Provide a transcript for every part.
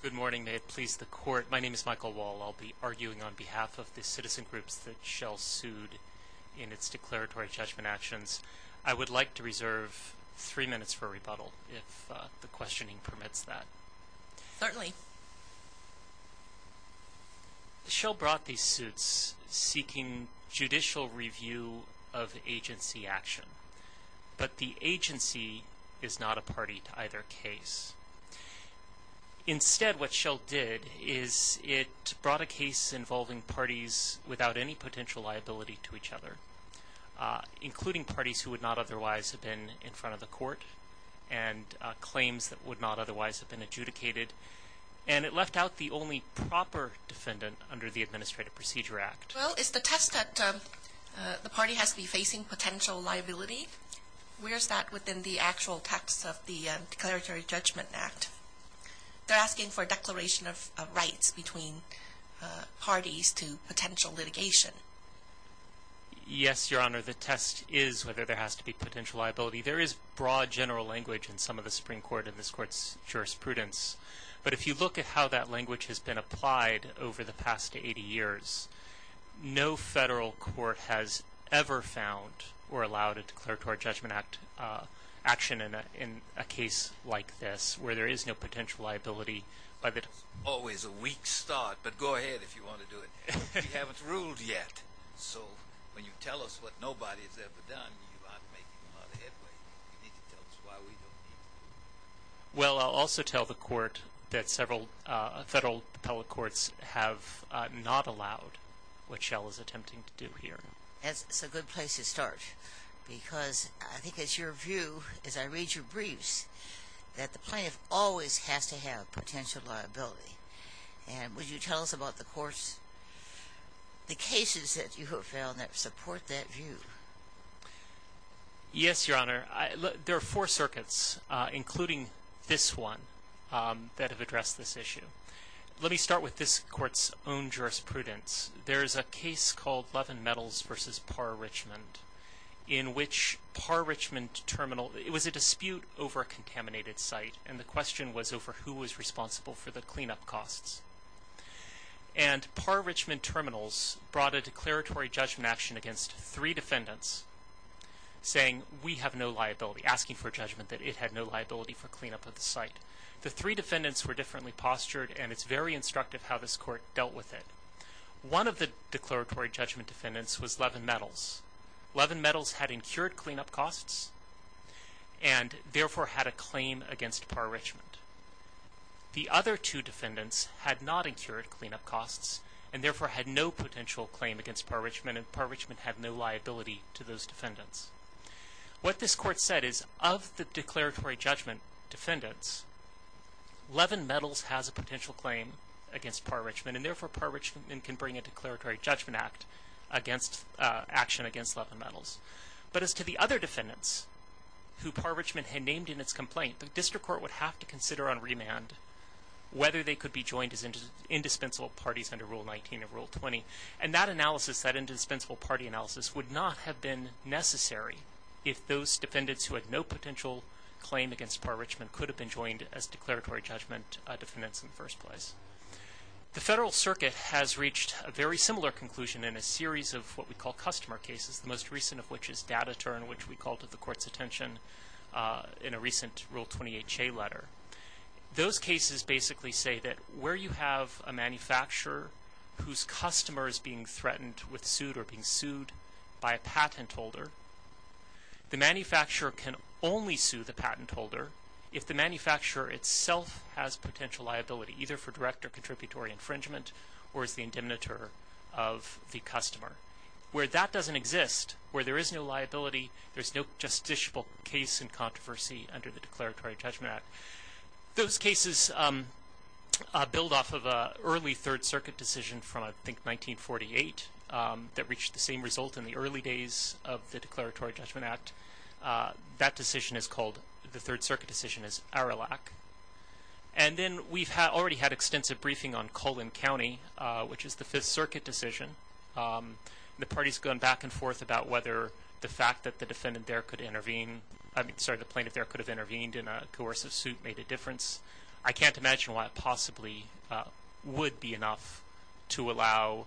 Good morning. May it please the court. My name is Michael Wall. I'll be arguing on behalf of the citizen groups that Shell sued in its declaratory judgment actions. I would like to reserve three minutes for rebuttal, if the questioning permits that. Certainly. Shell brought these suits seeking judicial review of agency action. But the agency is not a party to either case. Instead, what Shell did is it brought a case involving parties without any potential liability to each other, including parties who would not otherwise have been in front of the court and claims that would not otherwise have been adjudicated. And it left out the only proper defendant under the Administrative Procedure Act. Well, is the test that the party has to be facing potential liability? Where is that within the actual text of the Declaratory Judgment Act? They're asking for a declaration of rights between parties to potential litigation. Yes, Your Honor, the test is whether there has to be potential liability. There is broad general language in some of the Supreme Court and this Court's jurisprudence. But if you look at how that language has been applied over the past 80 years, no federal court has ever found or allowed a Declaratory Judgment Act action in a case like this where there is no potential liability. It's always a weak start, but go ahead if you want to do it. We haven't ruled yet. So when you tell us what nobody has ever done, you aren't making a lot of headway. Well, I'll also tell the Court that several federal appellate courts have not allowed what Shell is attempting to do here. That's a good place to start because I think it's your view, as I read your briefs, that the plaintiff always has to have potential liability. And would you tell us about the courts, the cases that you have found that support that view? Yes, Your Honor. There are four circuits, including this one, that have addressed this issue. Let me start with this Court's own jurisprudence. There is a case called Levin Metals v. Parr-Richmond in which Parr-Richmond Terminal – it was a dispute over a contaminated site, and the question was over who was responsible for the cleanup costs. And Parr-Richmond Terminals brought a declaratory judgment action against three defendants, asking for judgment that it had no liability for cleanup of the site. The three defendants were differently postured, and it's very instructive how this Court dealt with it. One of the declaratory judgment defendants was Levin Metals. Levin Metals had incurred cleanup costs and therefore had a claim against Parr-Richmond. The other two defendants had not incurred cleanup costs and therefore had no potential claim against Parr-Richmond, and Parr-Richmond had no liability to those defendants. What this Court said is, of the declaratory judgment defendants, Levin Metals has a potential claim against Parr-Richmond, and therefore Parr-Richmond can bring a declaratory judgment action against Levin Metals. But as to the other defendants who Parr-Richmond had named in its complaint, the District Court would have to consider on remand whether they could be joined as indispensable parties under Rule 19 or Rule 20. And that analysis, that indispensable party analysis, would not have been necessary if those defendants who had no potential claim against Parr-Richmond could have been joined as declaratory judgment defendants in the first place. The Federal Circuit has reached a very similar conclusion in a series of what we call customer cases, the most recent of which is Data-Turn, which we called to the Court's attention in a recent Rule 28-J letter. Those cases basically say that where you have a manufacturer whose customer is being threatened with suit or being sued by a patent holder, the manufacturer can only sue the patent holder if the manufacturer itself has potential liability, either for direct or contributory infringement, or is the indemnitator of the customer. Where that doesn't exist, where there is no liability, there's no justiciable case in controversy under the Declaratory Judgment Act. Those cases build off of an early Third Circuit decision from, I think, 1948 that reached the same result in the early days of the Declaratory Judgment Act. That decision is called, the Third Circuit decision is Arilac. And then we've already had extensive briefing on Cullen County, which is the Fifth Circuit decision. The party's gone back and forth about whether the fact that the defendant there could intervene, I mean, sorry, the plaintiff there could have intervened in a coercive suit made a difference. I can't imagine why it possibly would be enough to allow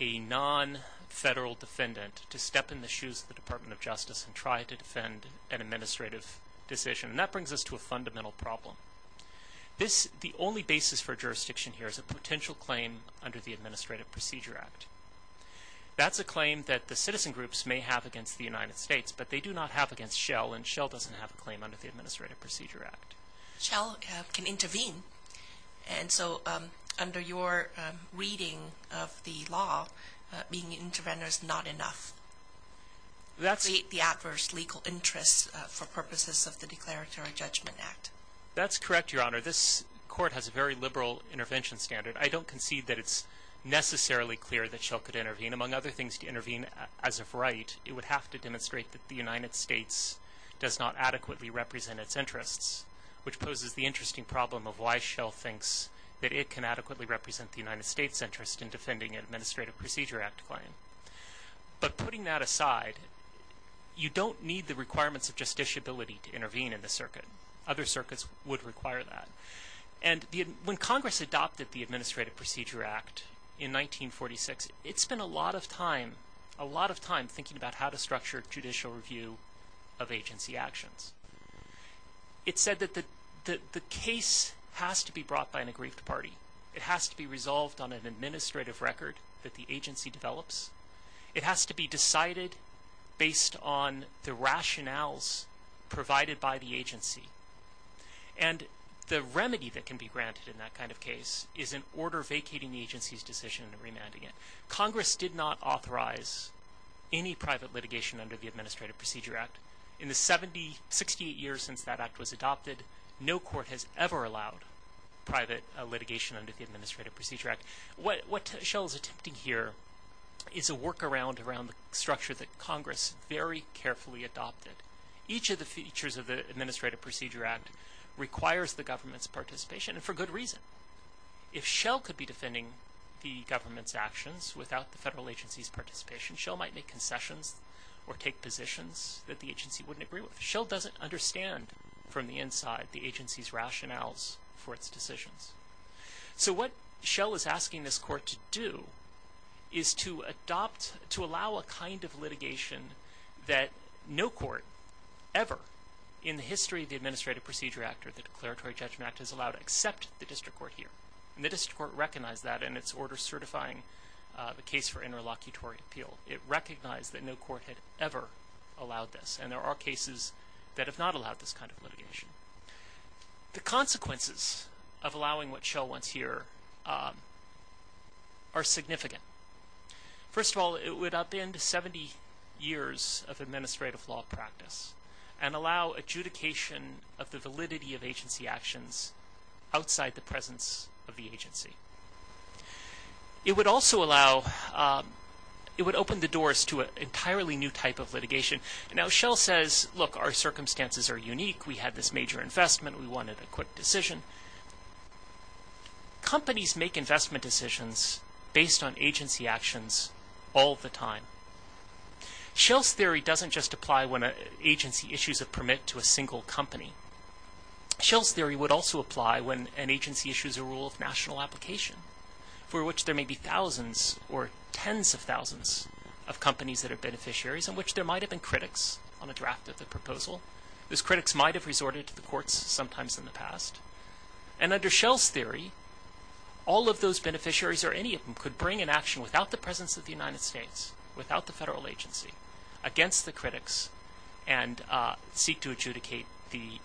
a non-federal defendant to step in the shoes of the Department of Justice and try to defend an administrative decision. And that brings us to a fundamental problem. The only basis for jurisdiction here is a potential claim under the Administrative Procedure Act. That's a claim that the citizen groups may have against the United States, but they do not have against Shell, and Shell doesn't have a claim under the Administrative Procedure Act. Shell can intervene, and so under your reading of the law, being an intervener is not enough. That's the adverse legal interest for purposes of the Declaratory Judgment Act. That's correct, Your Honor. This court has a very liberal intervention standard. I don't concede that it's necessarily clear that Shell could intervene. Among other things, to intervene as of right, it would have to demonstrate that the United States does not adequately represent its interests, which poses the interesting problem of why Shell thinks that it can adequately represent the United States' interest in defending an Administrative Procedure Act claim. But putting that aside, you don't need the requirements of justiciability to intervene in the circuit. Other circuits would require that. And when Congress adopted the Administrative Procedure Act in 1946, it spent a lot of time thinking about how to structure judicial review of agency actions. It said that the case has to be brought by an aggrieved party. It has to be resolved on an administrative record that the agency develops. It has to be decided based on the rationales provided by the agency. And the remedy that can be granted in that kind of case is an order vacating the agency's decision and remanding it. Congress did not authorize any private litigation under the Administrative Procedure Act. In the 68 years since that act was adopted, no court has ever allowed private litigation under the Administrative Procedure Act. What Shell is attempting here is a workaround around the structure that Congress very carefully adopted. Each of the features of the Administrative Procedure Act requires the government's participation, and for good reason. If Shell could be defending the government's actions without the federal agency's participation, Shell might make concessions or take positions that the agency wouldn't agree with. Shell doesn't understand from the inside the agency's rationales for its decisions. So what Shell is asking this court to do is to allow a kind of litigation that no court ever in the history of the Administrative Procedure Act or the Declaratory Judgment Act has allowed except the district court here. The district court recognized that in its order certifying the case for interlocutory appeal. It recognized that no court had ever allowed this, and there are cases that have not allowed this kind of litigation. The consequences of allowing what Shell wants here are significant. First of all, it would upend 70 years of administrative law practice and allow adjudication of the validity of agency actions outside the presence of the agency. It would also allow, it would open the doors to an entirely new type of litigation. Now Shell says, look, our circumstances are unique, we had this major investment, we wanted a quick decision. Companies make investment decisions based on agency actions all the time. Shell's theory doesn't just apply when an agency issues a permit to a single company. Shell's theory would also apply when an agency issues a rule of national application for which there may be thousands or tens of thousands of companies that are beneficiaries in which there might have been critics on a draft of the proposal. Those critics might have resorted to the courts sometimes in the past. And under Shell's theory, all of those beneficiaries or any of them could bring an action without the presence of the United States, without the federal agency, against the critics and seek to adjudicate the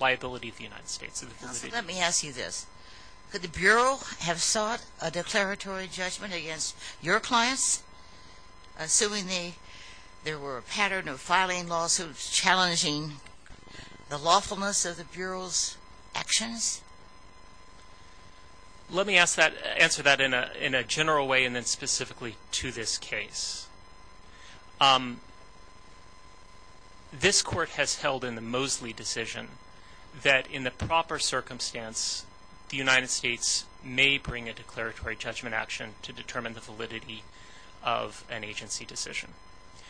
liability of the United States. Let me ask you this. Could the Bureau have sought a declaratory judgment against your clients, assuming there were a pattern of filing lawsuits challenging the lawfulness of the Bureau's actions? Let me answer that in a general way and then specifically to this case. This court has held in the Mosley decision that in the proper circumstance, the United States may bring a declaratory judgment action to determine the validity of an agency decision.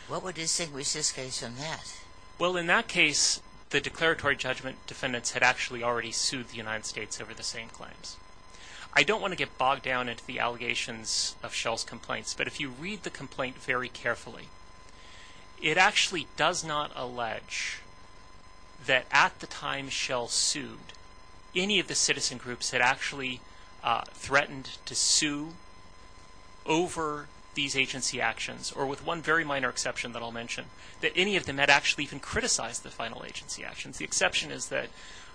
What would distinguish this case from that? Well, in that case, the declaratory judgment defendants had actually already sued the United States over the same claims. I don't want to get bogged down into the allegations of Shell's complaints, but if you read the complaint very carefully, it actually does not allege that at the time Shell sued, any of the citizen groups had actually threatened to sue over these agency actions, or with one very minor exception that I'll mention, that any of them had actually even criticized the final agency actions. The exception is that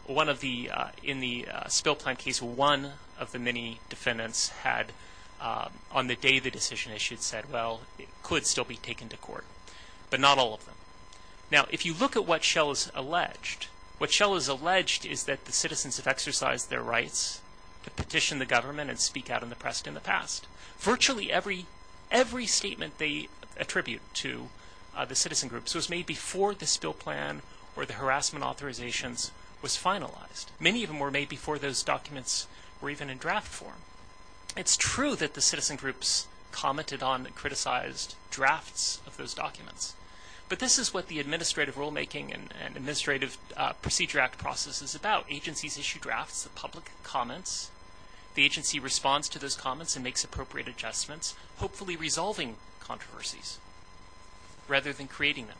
in the spill plan case, one of the many defendants had, on the day the decision issued, said, well, it could still be taken to court, but not all of them. Now, if you look at what Shell has alleged, what Shell has alleged is that the citizens have exercised their rights to petition the government and speak out in the press in the past. Virtually every statement they attribute to the citizen groups was made before the spill plan or the harassment authorizations was finalized. Many of them were made before those documents were even in draft form. It's true that the citizen groups commented on and criticized drafts of those documents, but this is what the Administrative Rulemaking and Administrative Procedure Act process is about. It's about agencies issue drafts of public comments. The agency responds to those comments and makes appropriate adjustments, hopefully resolving controversies rather than creating them.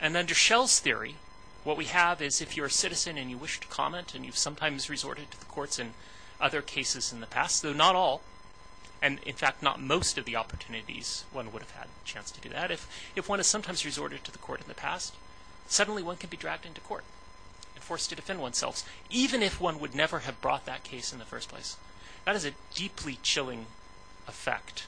And under Shell's theory, what we have is if you're a citizen and you wish to comment and you've sometimes resorted to the courts in other cases in the past, though not all, and in fact not most of the opportunities one would have had a chance to do that, if one has sometimes resorted to the court in the past, suddenly one can be dragged into court and forced to defend oneself, even if one would never have brought that case in the first place. That is a deeply chilling effect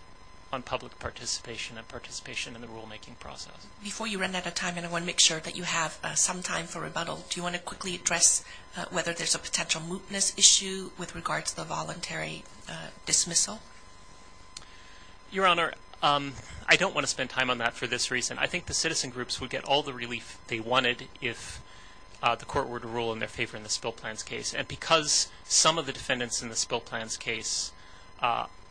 on public participation and participation in the rulemaking process. Before you run out of time, and I want to make sure that you have some time for rebuttal, do you want to quickly address whether there's a potential mootness issue with regard to the voluntary dismissal? Your Honor, I don't want to spend time on that for this reason. I think the citizen groups would get all the relief they wanted if the court were to rule in their favor in the Spill Plans case. And because some of the defendants in the Spill Plans case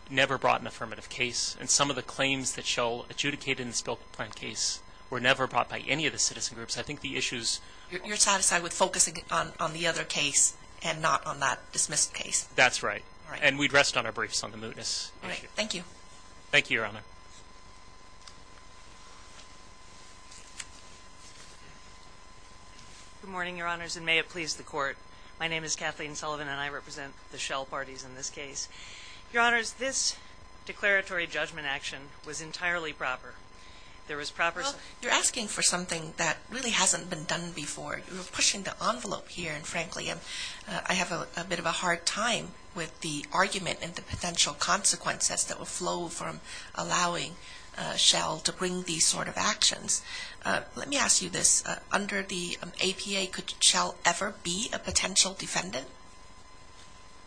never brought an affirmative case and some of the claims that Shell adjudicated in the Spill Plans case were never brought by any of the citizen groups, I think the issues… You're satisfied with focusing on the other case and not on that dismissed case? That's right. And we'd rest on our briefs on the mootness. Thank you. Thank you, Your Honor. Good morning, Your Honors, and may it please the Court. My name is Kathleen Sullivan, and I represent the Shell parties in this case. Your Honors, this declaratory judgment action was entirely proper. There was proper… Well, you're asking for something that really hasn't been done before. You're pushing the envelope here, and frankly, I have a bit of a hard time with the argument and the potential consequences that will flow from allowing Shell to bring these sort of actions Let me ask you this. Under the APA, could Shell ever be a potential defendant?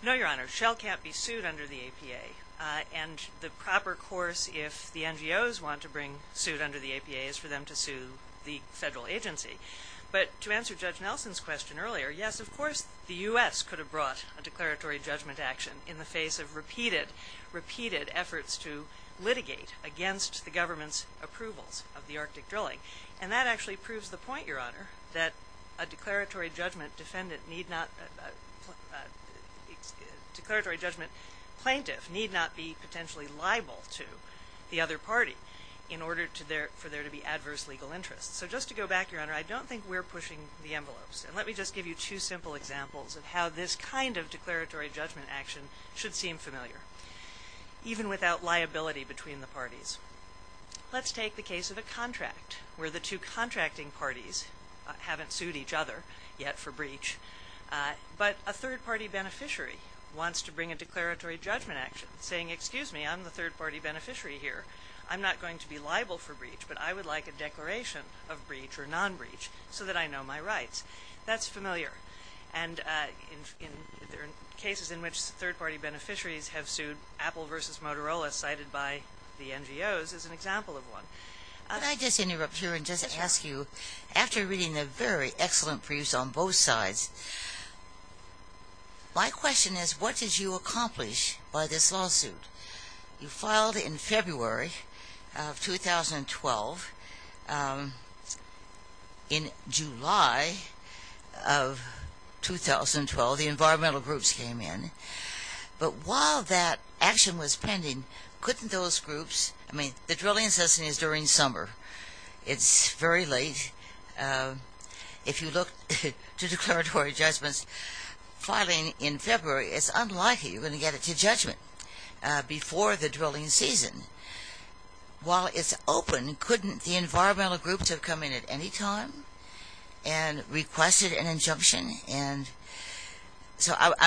No, Your Honor. Shell can't be sued under the APA. And the proper course if the NGOs want to bring suit under the APA is for them to sue the federal agency. But to answer Judge Nelson's question earlier, yes, of course the U.S. could have brought a declaratory judgment action in the face of repeated efforts to litigate against the government's approvals of the Arctic drilling. And that actually proves the point, Your Honor, that a declaratory judgment defendant need not… a declaratory judgment plaintiff need not be potentially liable to the other party in order for there to be adverse legal interests. So just to go back, Your Honor, I don't think we're pushing the envelopes. And let me just give you two simple examples of how this kind of declaratory judgment action should seem familiar, even without liability between the parties. Let's take the case of a contract where the two contracting parties haven't sued each other yet for breach. But a third-party beneficiary wants to bring a declaratory judgment action, saying, excuse me, I'm the third-party beneficiary here. I'm not going to be liable for breach, but I would like a declaration of breach or non-breach so that I know my rights. That's familiar. And there are cases in which third-party beneficiaries have sued. Apple v. Motorola, cited by the NGOs, is an example of one. Can I just interrupt here and just ask you, after reading the very excellent briefs on both sides, my question is, what did you accomplish by this lawsuit? You filed in February of 2012. In July of 2012, the environmental groups came in. But while that action was pending, couldn't those groups... I mean, the drilling cessation is during summer. It's very late. If you look to declaratory judgments filing in February, it's unlikely you're going to get it to judgment. Before the drilling season, while it's open, couldn't the environmental groups have come in at any time and requested an injunction? So I'm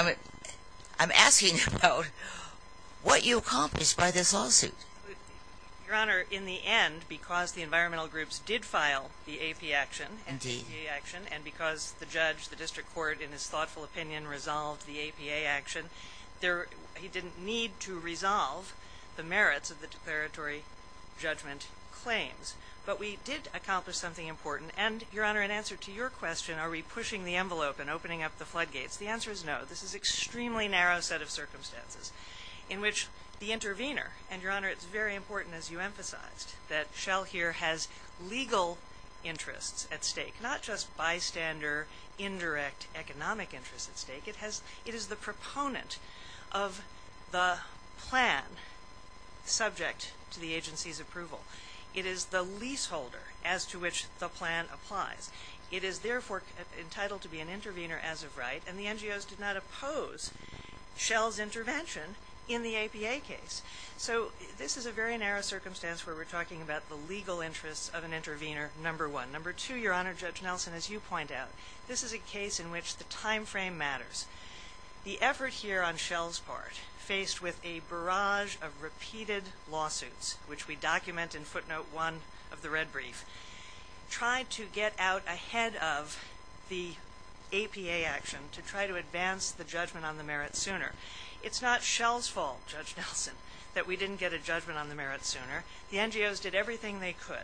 asking about what you accomplished by this lawsuit. Your Honor, in the end, because the environmental groups did file the APA action, and because the judge, the district court, in his thoughtful opinion, resolved the APA action, he didn't need to resolve the merits of the declaratory judgment claims. But we did accomplish something important. And, Your Honor, in answer to your question, are we pushing the envelope and opening up the floodgates, the answer is no. This is an extremely narrow set of circumstances in which the intervener... And, Your Honor, it's very important, as you emphasized, that Shell here has legal interests at stake, not just bystander, indirect economic interests at stake. It is the proponent of the plan subject to the agency's approval. It is the leaseholder as to which the plan applies. It is, therefore, entitled to be an intervener as of right, and the NGOs did not oppose Shell's intervention in the APA case. So this is a very narrow circumstance where we're talking about the legal interests of an intervener, number one. Number two, Your Honor, Judge Nelson, as you point out, this is a case in which the time frame matters. The effort here on Shell's part, faced with a barrage of repeated lawsuits, which we document in footnote one of the red brief, tried to get out ahead of the APA action to try to advance the judgment on the merit sooner. It's not Shell's fault, Judge Nelson, that we didn't get a judgment on the merit sooner. The NGOs did everything they could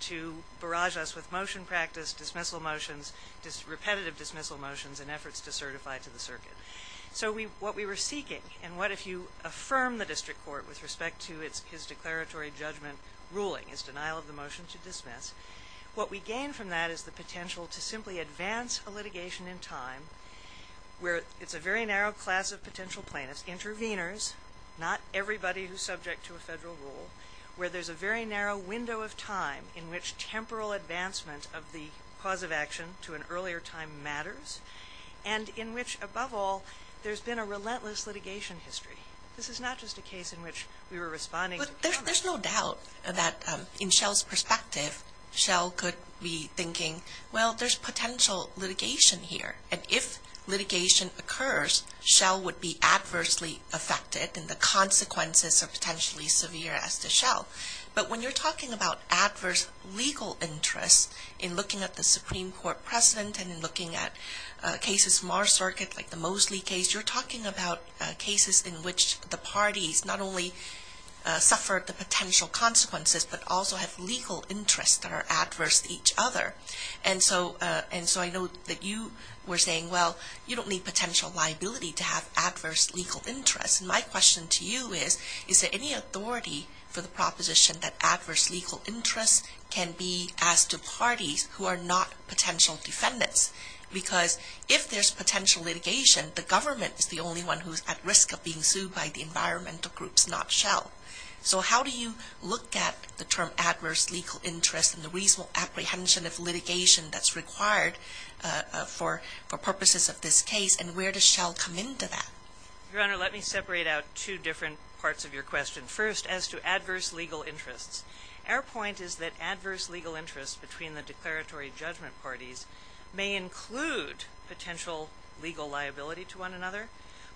to barrage us with motion practice, dismissal motions, repetitive dismissal motions, and efforts to certify to the circuit. So what we were seeking, and what if you affirm the district court with respect to his declaratory judgment ruling, his denial of the motion to dismiss, what we gain from that is the potential to simply advance a litigation in time where it's a very narrow class of potential plaintiffs, interveners, not everybody who's subject to a federal rule, where there's a very narrow window of time in which temporal advancement of the cause of action to an earlier time matters, and in which, above all, there's been a relentless litigation history. This is not just a case in which we were responding to cameras. But there's no doubt that in Shell's perspective, Shell could be thinking, well, there's potential litigation here. And if litigation occurs, Shell would be adversely affected, and the consequences are potentially as severe as to Shell. But when you're talking about adverse legal interests in looking at the Supreme Court precedent and in looking at cases of Mars Circuit, like the Mosley case, you're talking about cases in which the parties not only suffer the potential consequences, but also have legal interests that are adverse to each other. And so I know that you were saying, well, you don't need potential liability to have adverse legal interests. And my question to you is, is there any authority for the proposition that adverse legal interests can be asked to parties who are not potential defendants? Because if there's potential litigation, the government is the only one who's at risk of being sued by the environmental groups, not Shell. So how do you look at the term adverse legal interest and the reasonable apprehension of litigation that's required for purposes of this case, and where does Shell come into that? Your Honor, let me separate out two different parts of your question. First, as to adverse legal interests. Our point is that adverse legal interests between the declaratory judgment parties may include potential legal liability to one another,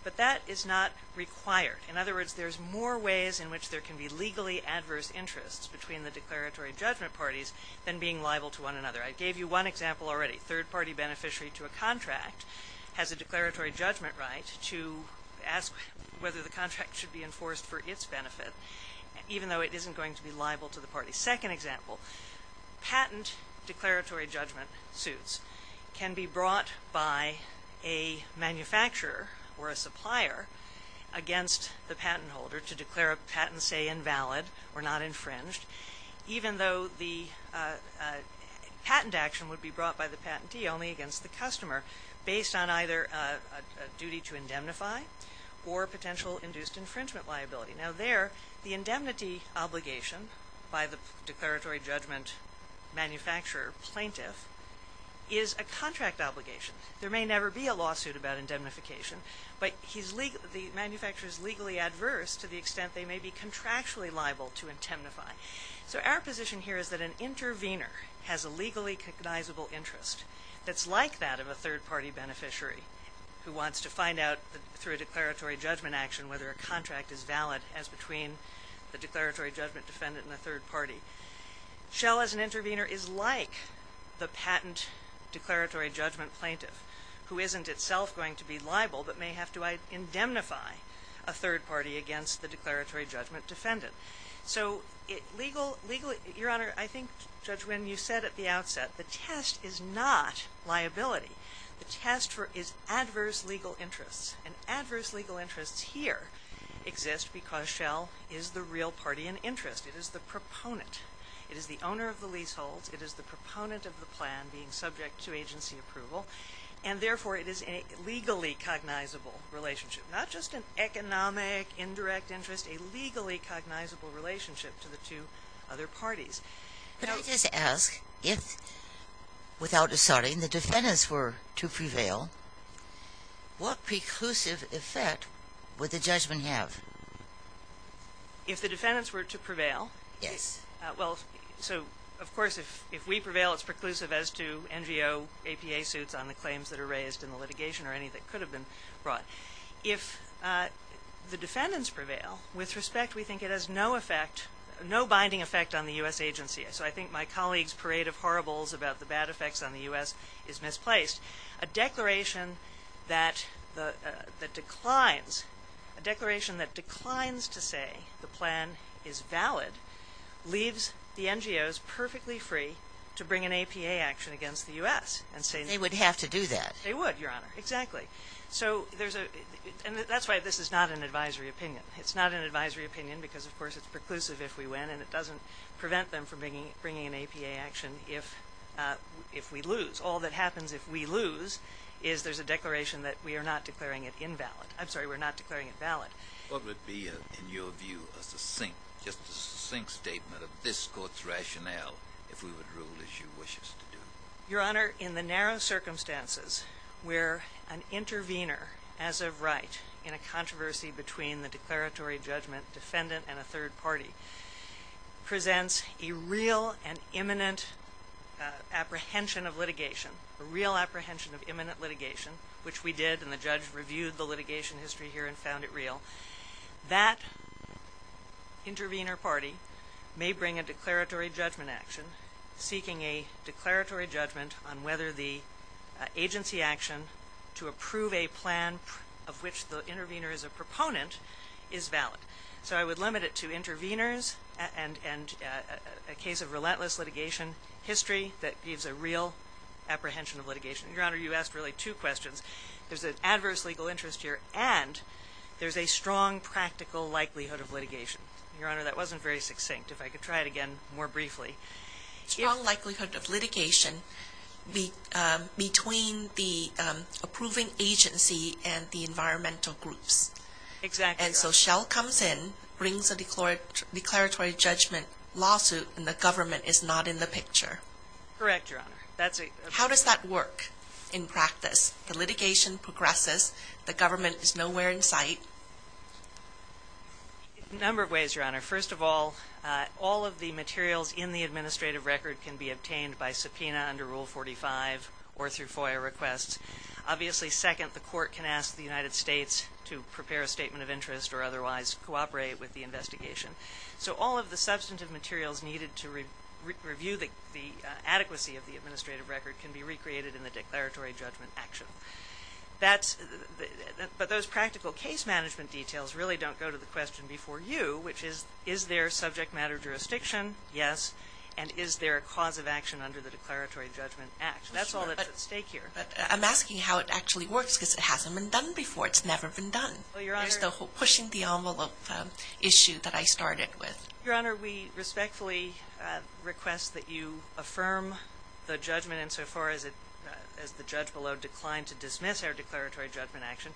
but that is not required. In other words, there's more ways in which there can be legally adverse interests between the declaratory judgment parties than being liable to one another. I gave you one example already. Third-party beneficiary to a contract has a declaratory judgment right to ask whether the contract should be enforced for its benefit, even though it isn't going to be liable to the party. Second example, patent declaratory judgment suits can be brought by a manufacturer or a supplier against the patent holder to declare a patent, say, invalid or not infringed, even though the patent action would be brought by the patentee only against the customer, based on either a duty to indemnify or potential induced infringement liability. Now there, the indemnity obligation by the declaratory judgment manufacturer plaintiff is a contract obligation. There may never be a lawsuit about indemnification, but the manufacturer is legally adverse to the extent they may be contractually liable to indemnify. So our position here is that an intervener has a legally cognizable interest that's like that of a third-party beneficiary who wants to find out through a declaratory judgment action whether a contract is valid as between the declaratory judgment defendant and a third-party. Shell, as an intervener, is like the patent declaratory judgment plaintiff, who isn't itself going to be liable but may have to indemnify a third-party against the declaratory judgment defendant. So legally, Your Honor, I think, Judge Wynn, you said at the outset the test is not liability. The test is adverse legal interests. And adverse legal interests here exist because Shell is the real party in interest. It is the proponent. It is the owner of the leaseholds. It is the proponent of the plan being subject to agency approval. And therefore, it is a legally cognizable relationship, not just an economic, indirect interest, a legally cognizable relationship to the two other parties. Could I just ask if, without asserting, the defendants were to prevail, what preclusive effect would the judgment have? If the defendants were to prevail? Yes. Well, so, of course, if we prevail, it's preclusive as to NGO, APA suits on the claims that are raised in the litigation or any that could have been brought. If the defendants prevail, with respect, we think it has no binding effect on the U.S. agency. So I think my colleague's parade of horribles about the bad effects on the U.S. is misplaced. A declaration that declines to say the plan is valid leaves the NGOs perfectly free to bring an APA action against the U.S. They would have to do that. They would, Your Honor, exactly. So there's a – and that's why this is not an advisory opinion. It's not an advisory opinion because, of course, it's preclusive if we win, and it doesn't prevent them from bringing an APA action if we lose. All that happens if we lose is there's a declaration that we are not declaring it invalid. I'm sorry, we're not declaring it valid. What would be, in your view, a succinct, just a succinct statement of this Court's rationale if we would rule as you wish us to do? Your Honor, in the narrow circumstances where an intervener, as of right, in a controversy between the declaratory judgment defendant and a third party, presents a real and imminent apprehension of litigation, a real apprehension of imminent litigation, which we did and the judge reviewed the litigation history here and found it real, that intervener party may bring a declaratory judgment action seeking a declaratory judgment on whether the agency action to approve a plan of which the intervener is a proponent is valid. So I would limit it to interveners and a case of relentless litigation history that gives a real apprehension of litigation. Your Honor, you asked really two questions. There's an adverse legal interest here and there's a strong practical likelihood of litigation. Your Honor, that wasn't very succinct. If I could try it again more briefly. A strong likelihood of litigation between the approving agency and the environmental groups. Exactly, Your Honor. And so Shell comes in, brings a declaratory judgment lawsuit, and the government is not in the picture. Correct, Your Honor. How does that work in practice? The litigation progresses. The government is nowhere in sight. A number of ways, Your Honor. First of all, all of the materials in the administrative record can be obtained by subpoena under Rule 45 or through FOIA requests. Obviously, second, the court can ask the United States to prepare a statement of interest or otherwise cooperate with the investigation. So all of the substantive materials needed to review the adequacy of the administrative record can be recreated in the declaratory judgment action. But those practical case management details really don't go to the question before you, which is, is there subject matter jurisdiction? Yes. And is there a cause of action under the Declaratory Judgment Act? That's all that's at stake here. I'm asking how it actually works because it hasn't been done before. It's never been done. There's the pushing the envelope issue that I started with. Your Honor, we respectfully request that you affirm the judgment insofar as the judge below declined to dismiss our declaratory judgment action.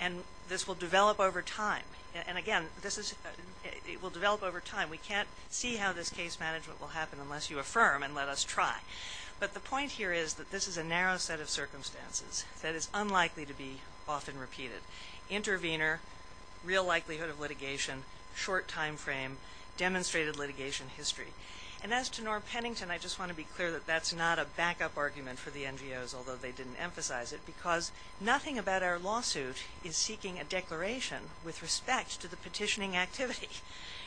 And this will develop over time. And, again, it will develop over time. We can't see how this case management will happen unless you affirm and let us try. But the point here is that this is a narrow set of circumstances that is unlikely to be often repeated. Intervenor, real likelihood of litigation, short time frame, demonstrated litigation history. And as to Norm Pennington, I just want to be clear that that's not a backup argument for the NGOs, although they didn't emphasize it, because nothing about our lawsuit is seeking a declaration with respect to the petitioning activity.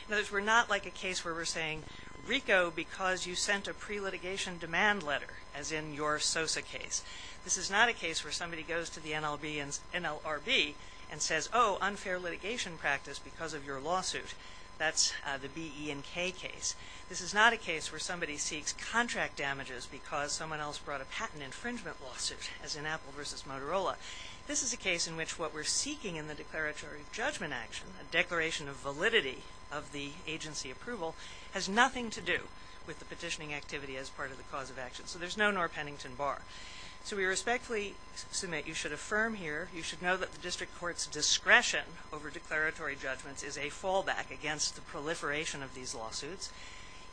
In other words, we're not like a case where we're saying, RICO, because you sent a pre-litigation demand letter, as in your SOSA case. This is not a case where somebody goes to the NLRB and says, oh, unfair litigation practice because of your lawsuit. That's the B, E, and K case. This is not a case where somebody seeks contract damages because someone else brought a patent infringement lawsuit, as in Apple v. Motorola. This is a case in which what we're seeking in the declaratory judgment action, a declaration of validity of the agency approval, has nothing to do with the petitioning activity as part of the cause of action. So there's no Norm Pennington bar. So we respectfully submit you should affirm here, you should know that the district court's discretion over declaratory judgments is a fallback against the proliferation of these lawsuits.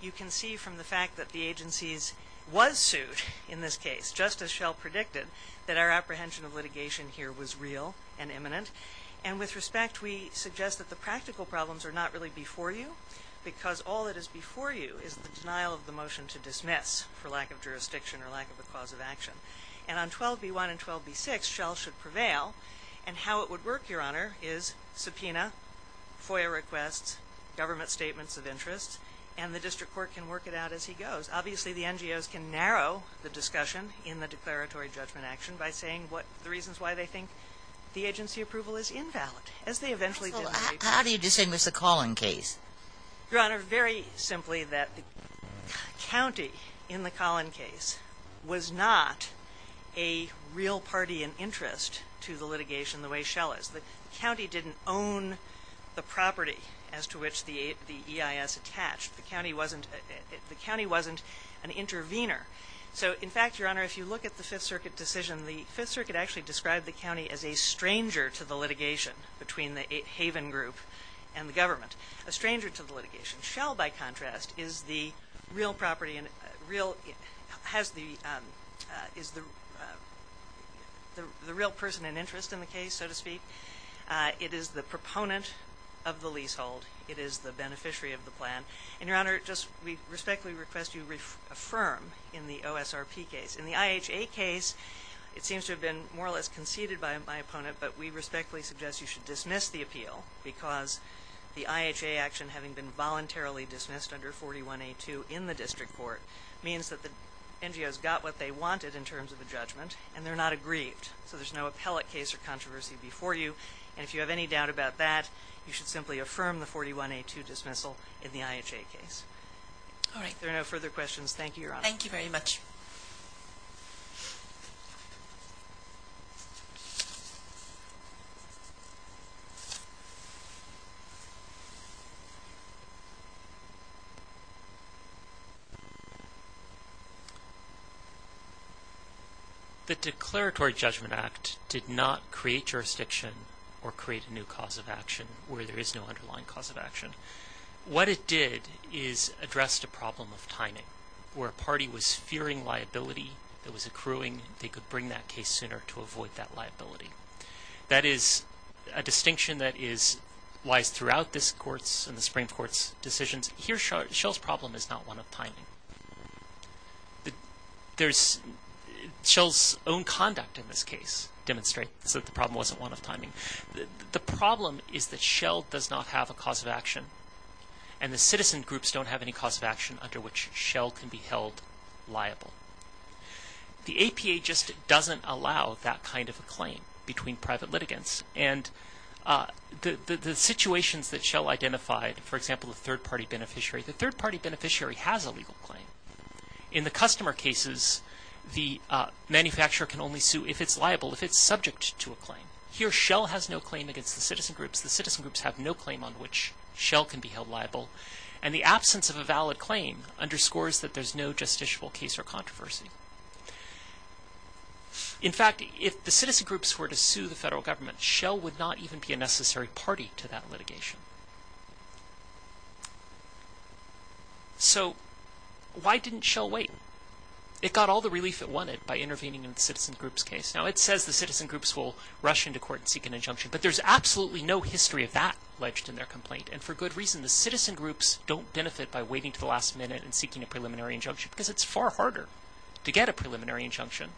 You can see from the fact that the agencies was sued in this case, just as Shell predicted, that our apprehension of litigation here was real and imminent. And with respect, we suggest that the practical problems are not really before you, because all that is before you is the denial of the motion to dismiss for lack of jurisdiction or lack of a cause of action. And on 12b-1 and 12b-6, Shell should prevail. And how it would work, Your Honor, is subpoena, FOIA requests, government statements of interest, and the district court can work it out as he goes. Obviously, the NGOs can narrow the discussion in the declaratory judgment action by saying what the reasons why they think the agency approval is invalid. How do you distinguish the Collin case? Your Honor, very simply that the county in the Collin case was not a real party in interest to the litigation the way Shell is. The county didn't own the property as to which the EIS attached. The county wasn't an intervener. So, in fact, Your Honor, if you look at the Fifth Circuit decision, the Fifth Circuit actually described the county as a stranger to the litigation between the Haven Group and the government. A stranger to the litigation. Shell, by contrast, is the real person in interest in the case, so to speak. It is the proponent of the leasehold. It is the beneficiary of the plan. And, Your Honor, we respectfully request you affirm in the OSRP case. In the IHA case, it seems to have been more or less conceded by my opponent, but we respectfully suggest you should dismiss the appeal because the IHA action, having been voluntarily dismissed under 41A2 in the district court, means that the NGOs got what they wanted in terms of a judgment, and they're not aggrieved. So there's no appellate case or controversy before you. And if you have any doubt about that, you should simply affirm the 41A2 dismissal in the IHA case. If there are no further questions, thank you, Your Honor. Thank you very much. The Declaratory Judgment Act did not create jurisdiction or create a new cause of action where there is no underlying cause of action. What it did is addressed a problem of timing, where a party was fearing liability, it was accruing, they could bring that case sooner to avoid that liability. That is a distinction that lies throughout this court's and the Supreme Court's decisions. Here, Shell's problem is not one of timing. Shell's own conduct in this case demonstrates that the problem wasn't one of timing. The problem is that Shell does not have a cause of action, and the citizen groups don't have any cause of action under which Shell can be held liable. The APA just doesn't allow that kind of a claim between private litigants. And the situations that Shell identified, for example, the third-party beneficiary, the third-party beneficiary has a legal claim. In the customer cases, the manufacturer can only sue if it's liable, if it's subject to a claim. Here, Shell has no claim against the citizen groups. The citizen groups have no claim on which Shell can be held liable. And the absence of a valid claim underscores that there's no justiciable case or controversy. In fact, if the citizen groups were to sue the federal government, Shell would not even be a necessary party to that litigation. So, why didn't Shell wait? It got all the relief it wanted by intervening in the citizen groups' case. Now, it says the citizen groups will rush into court and seek an injunction, but there's absolutely no history of that alleged in their complaint. And for good reason. The citizen groups don't benefit by waiting to the last minute and seeking a preliminary injunction, because it's far harder to get a preliminary injunction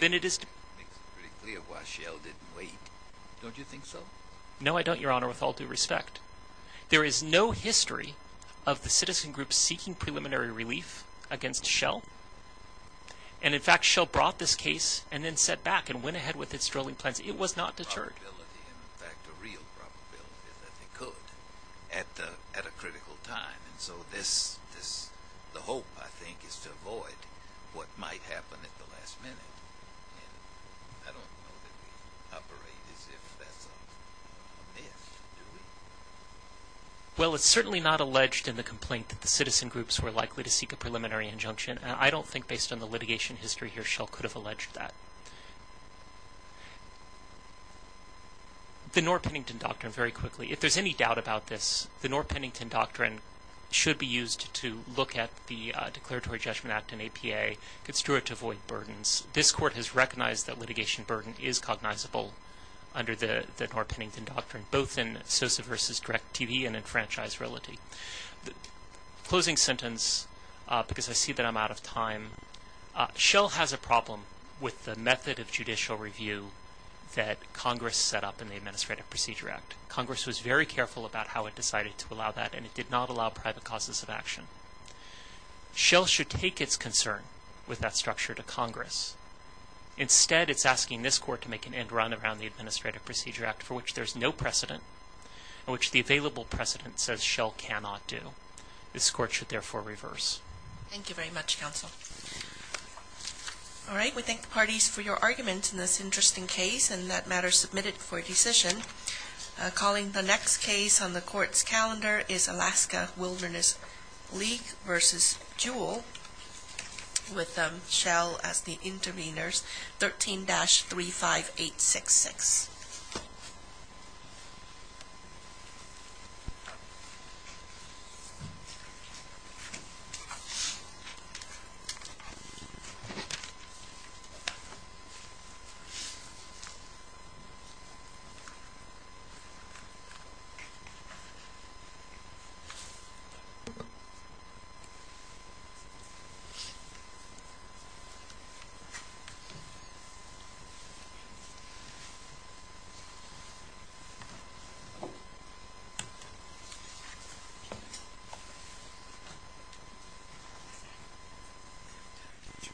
than it is to... It makes it pretty clear why Shell didn't wait, don't you think so? No, I don't, Your Honor, with all due respect. There is no history of the citizen groups seeking preliminary relief against Shell. And in fact, Shell brought this case and then set back and went ahead with its drilling plans. It was not deterred. Well, it's certainly not alleged in the complaint that the citizen groups were likely to seek a preliminary injunction. And I don't think, based on the litigation history here, Shell could have alleged that. The Norr-Pennington Doctrine, very quickly. If there's any doubt about this, the Norr-Pennington Doctrine should be used to look at the Declaratory Judgment Act and APA. It's true to avoid burdens. This court has recognized that litigation burden is cognizable under the Norr-Pennington Doctrine, both in Sosa v. Direct TV and in Franchise Reality. Closing sentence, because I see that I'm out of time. Shell has a problem with the method of judicial review that Congress set up in the Administrative Procedure Act. Congress was very careful about how it decided to allow that, and it did not allow private causes of action. Shell should take its concern with that structure to Congress. Instead, it's asking this court to make an end run around the Administrative Procedure Act, for which there's no precedent, and which the available precedent says Shell cannot do. This court should therefore reverse. Thank you very much, Counsel. All right, we thank the parties for your argument in this interesting case, and that matter is submitted for decision. Calling the next case on the court's calendar is Alaska Wilderness League v. Jewel, with Shell as the intervenors, 13-35866. Thank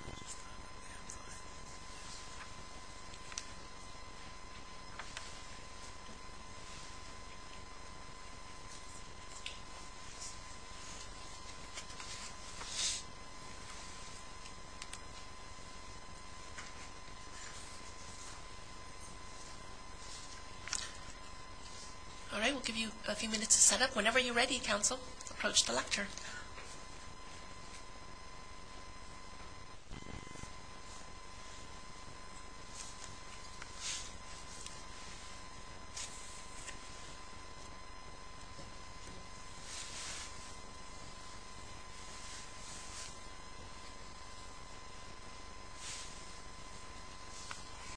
you. All right, we'll give you a few minutes to set up. Whenever you're ready, Counsel, approach the lectern.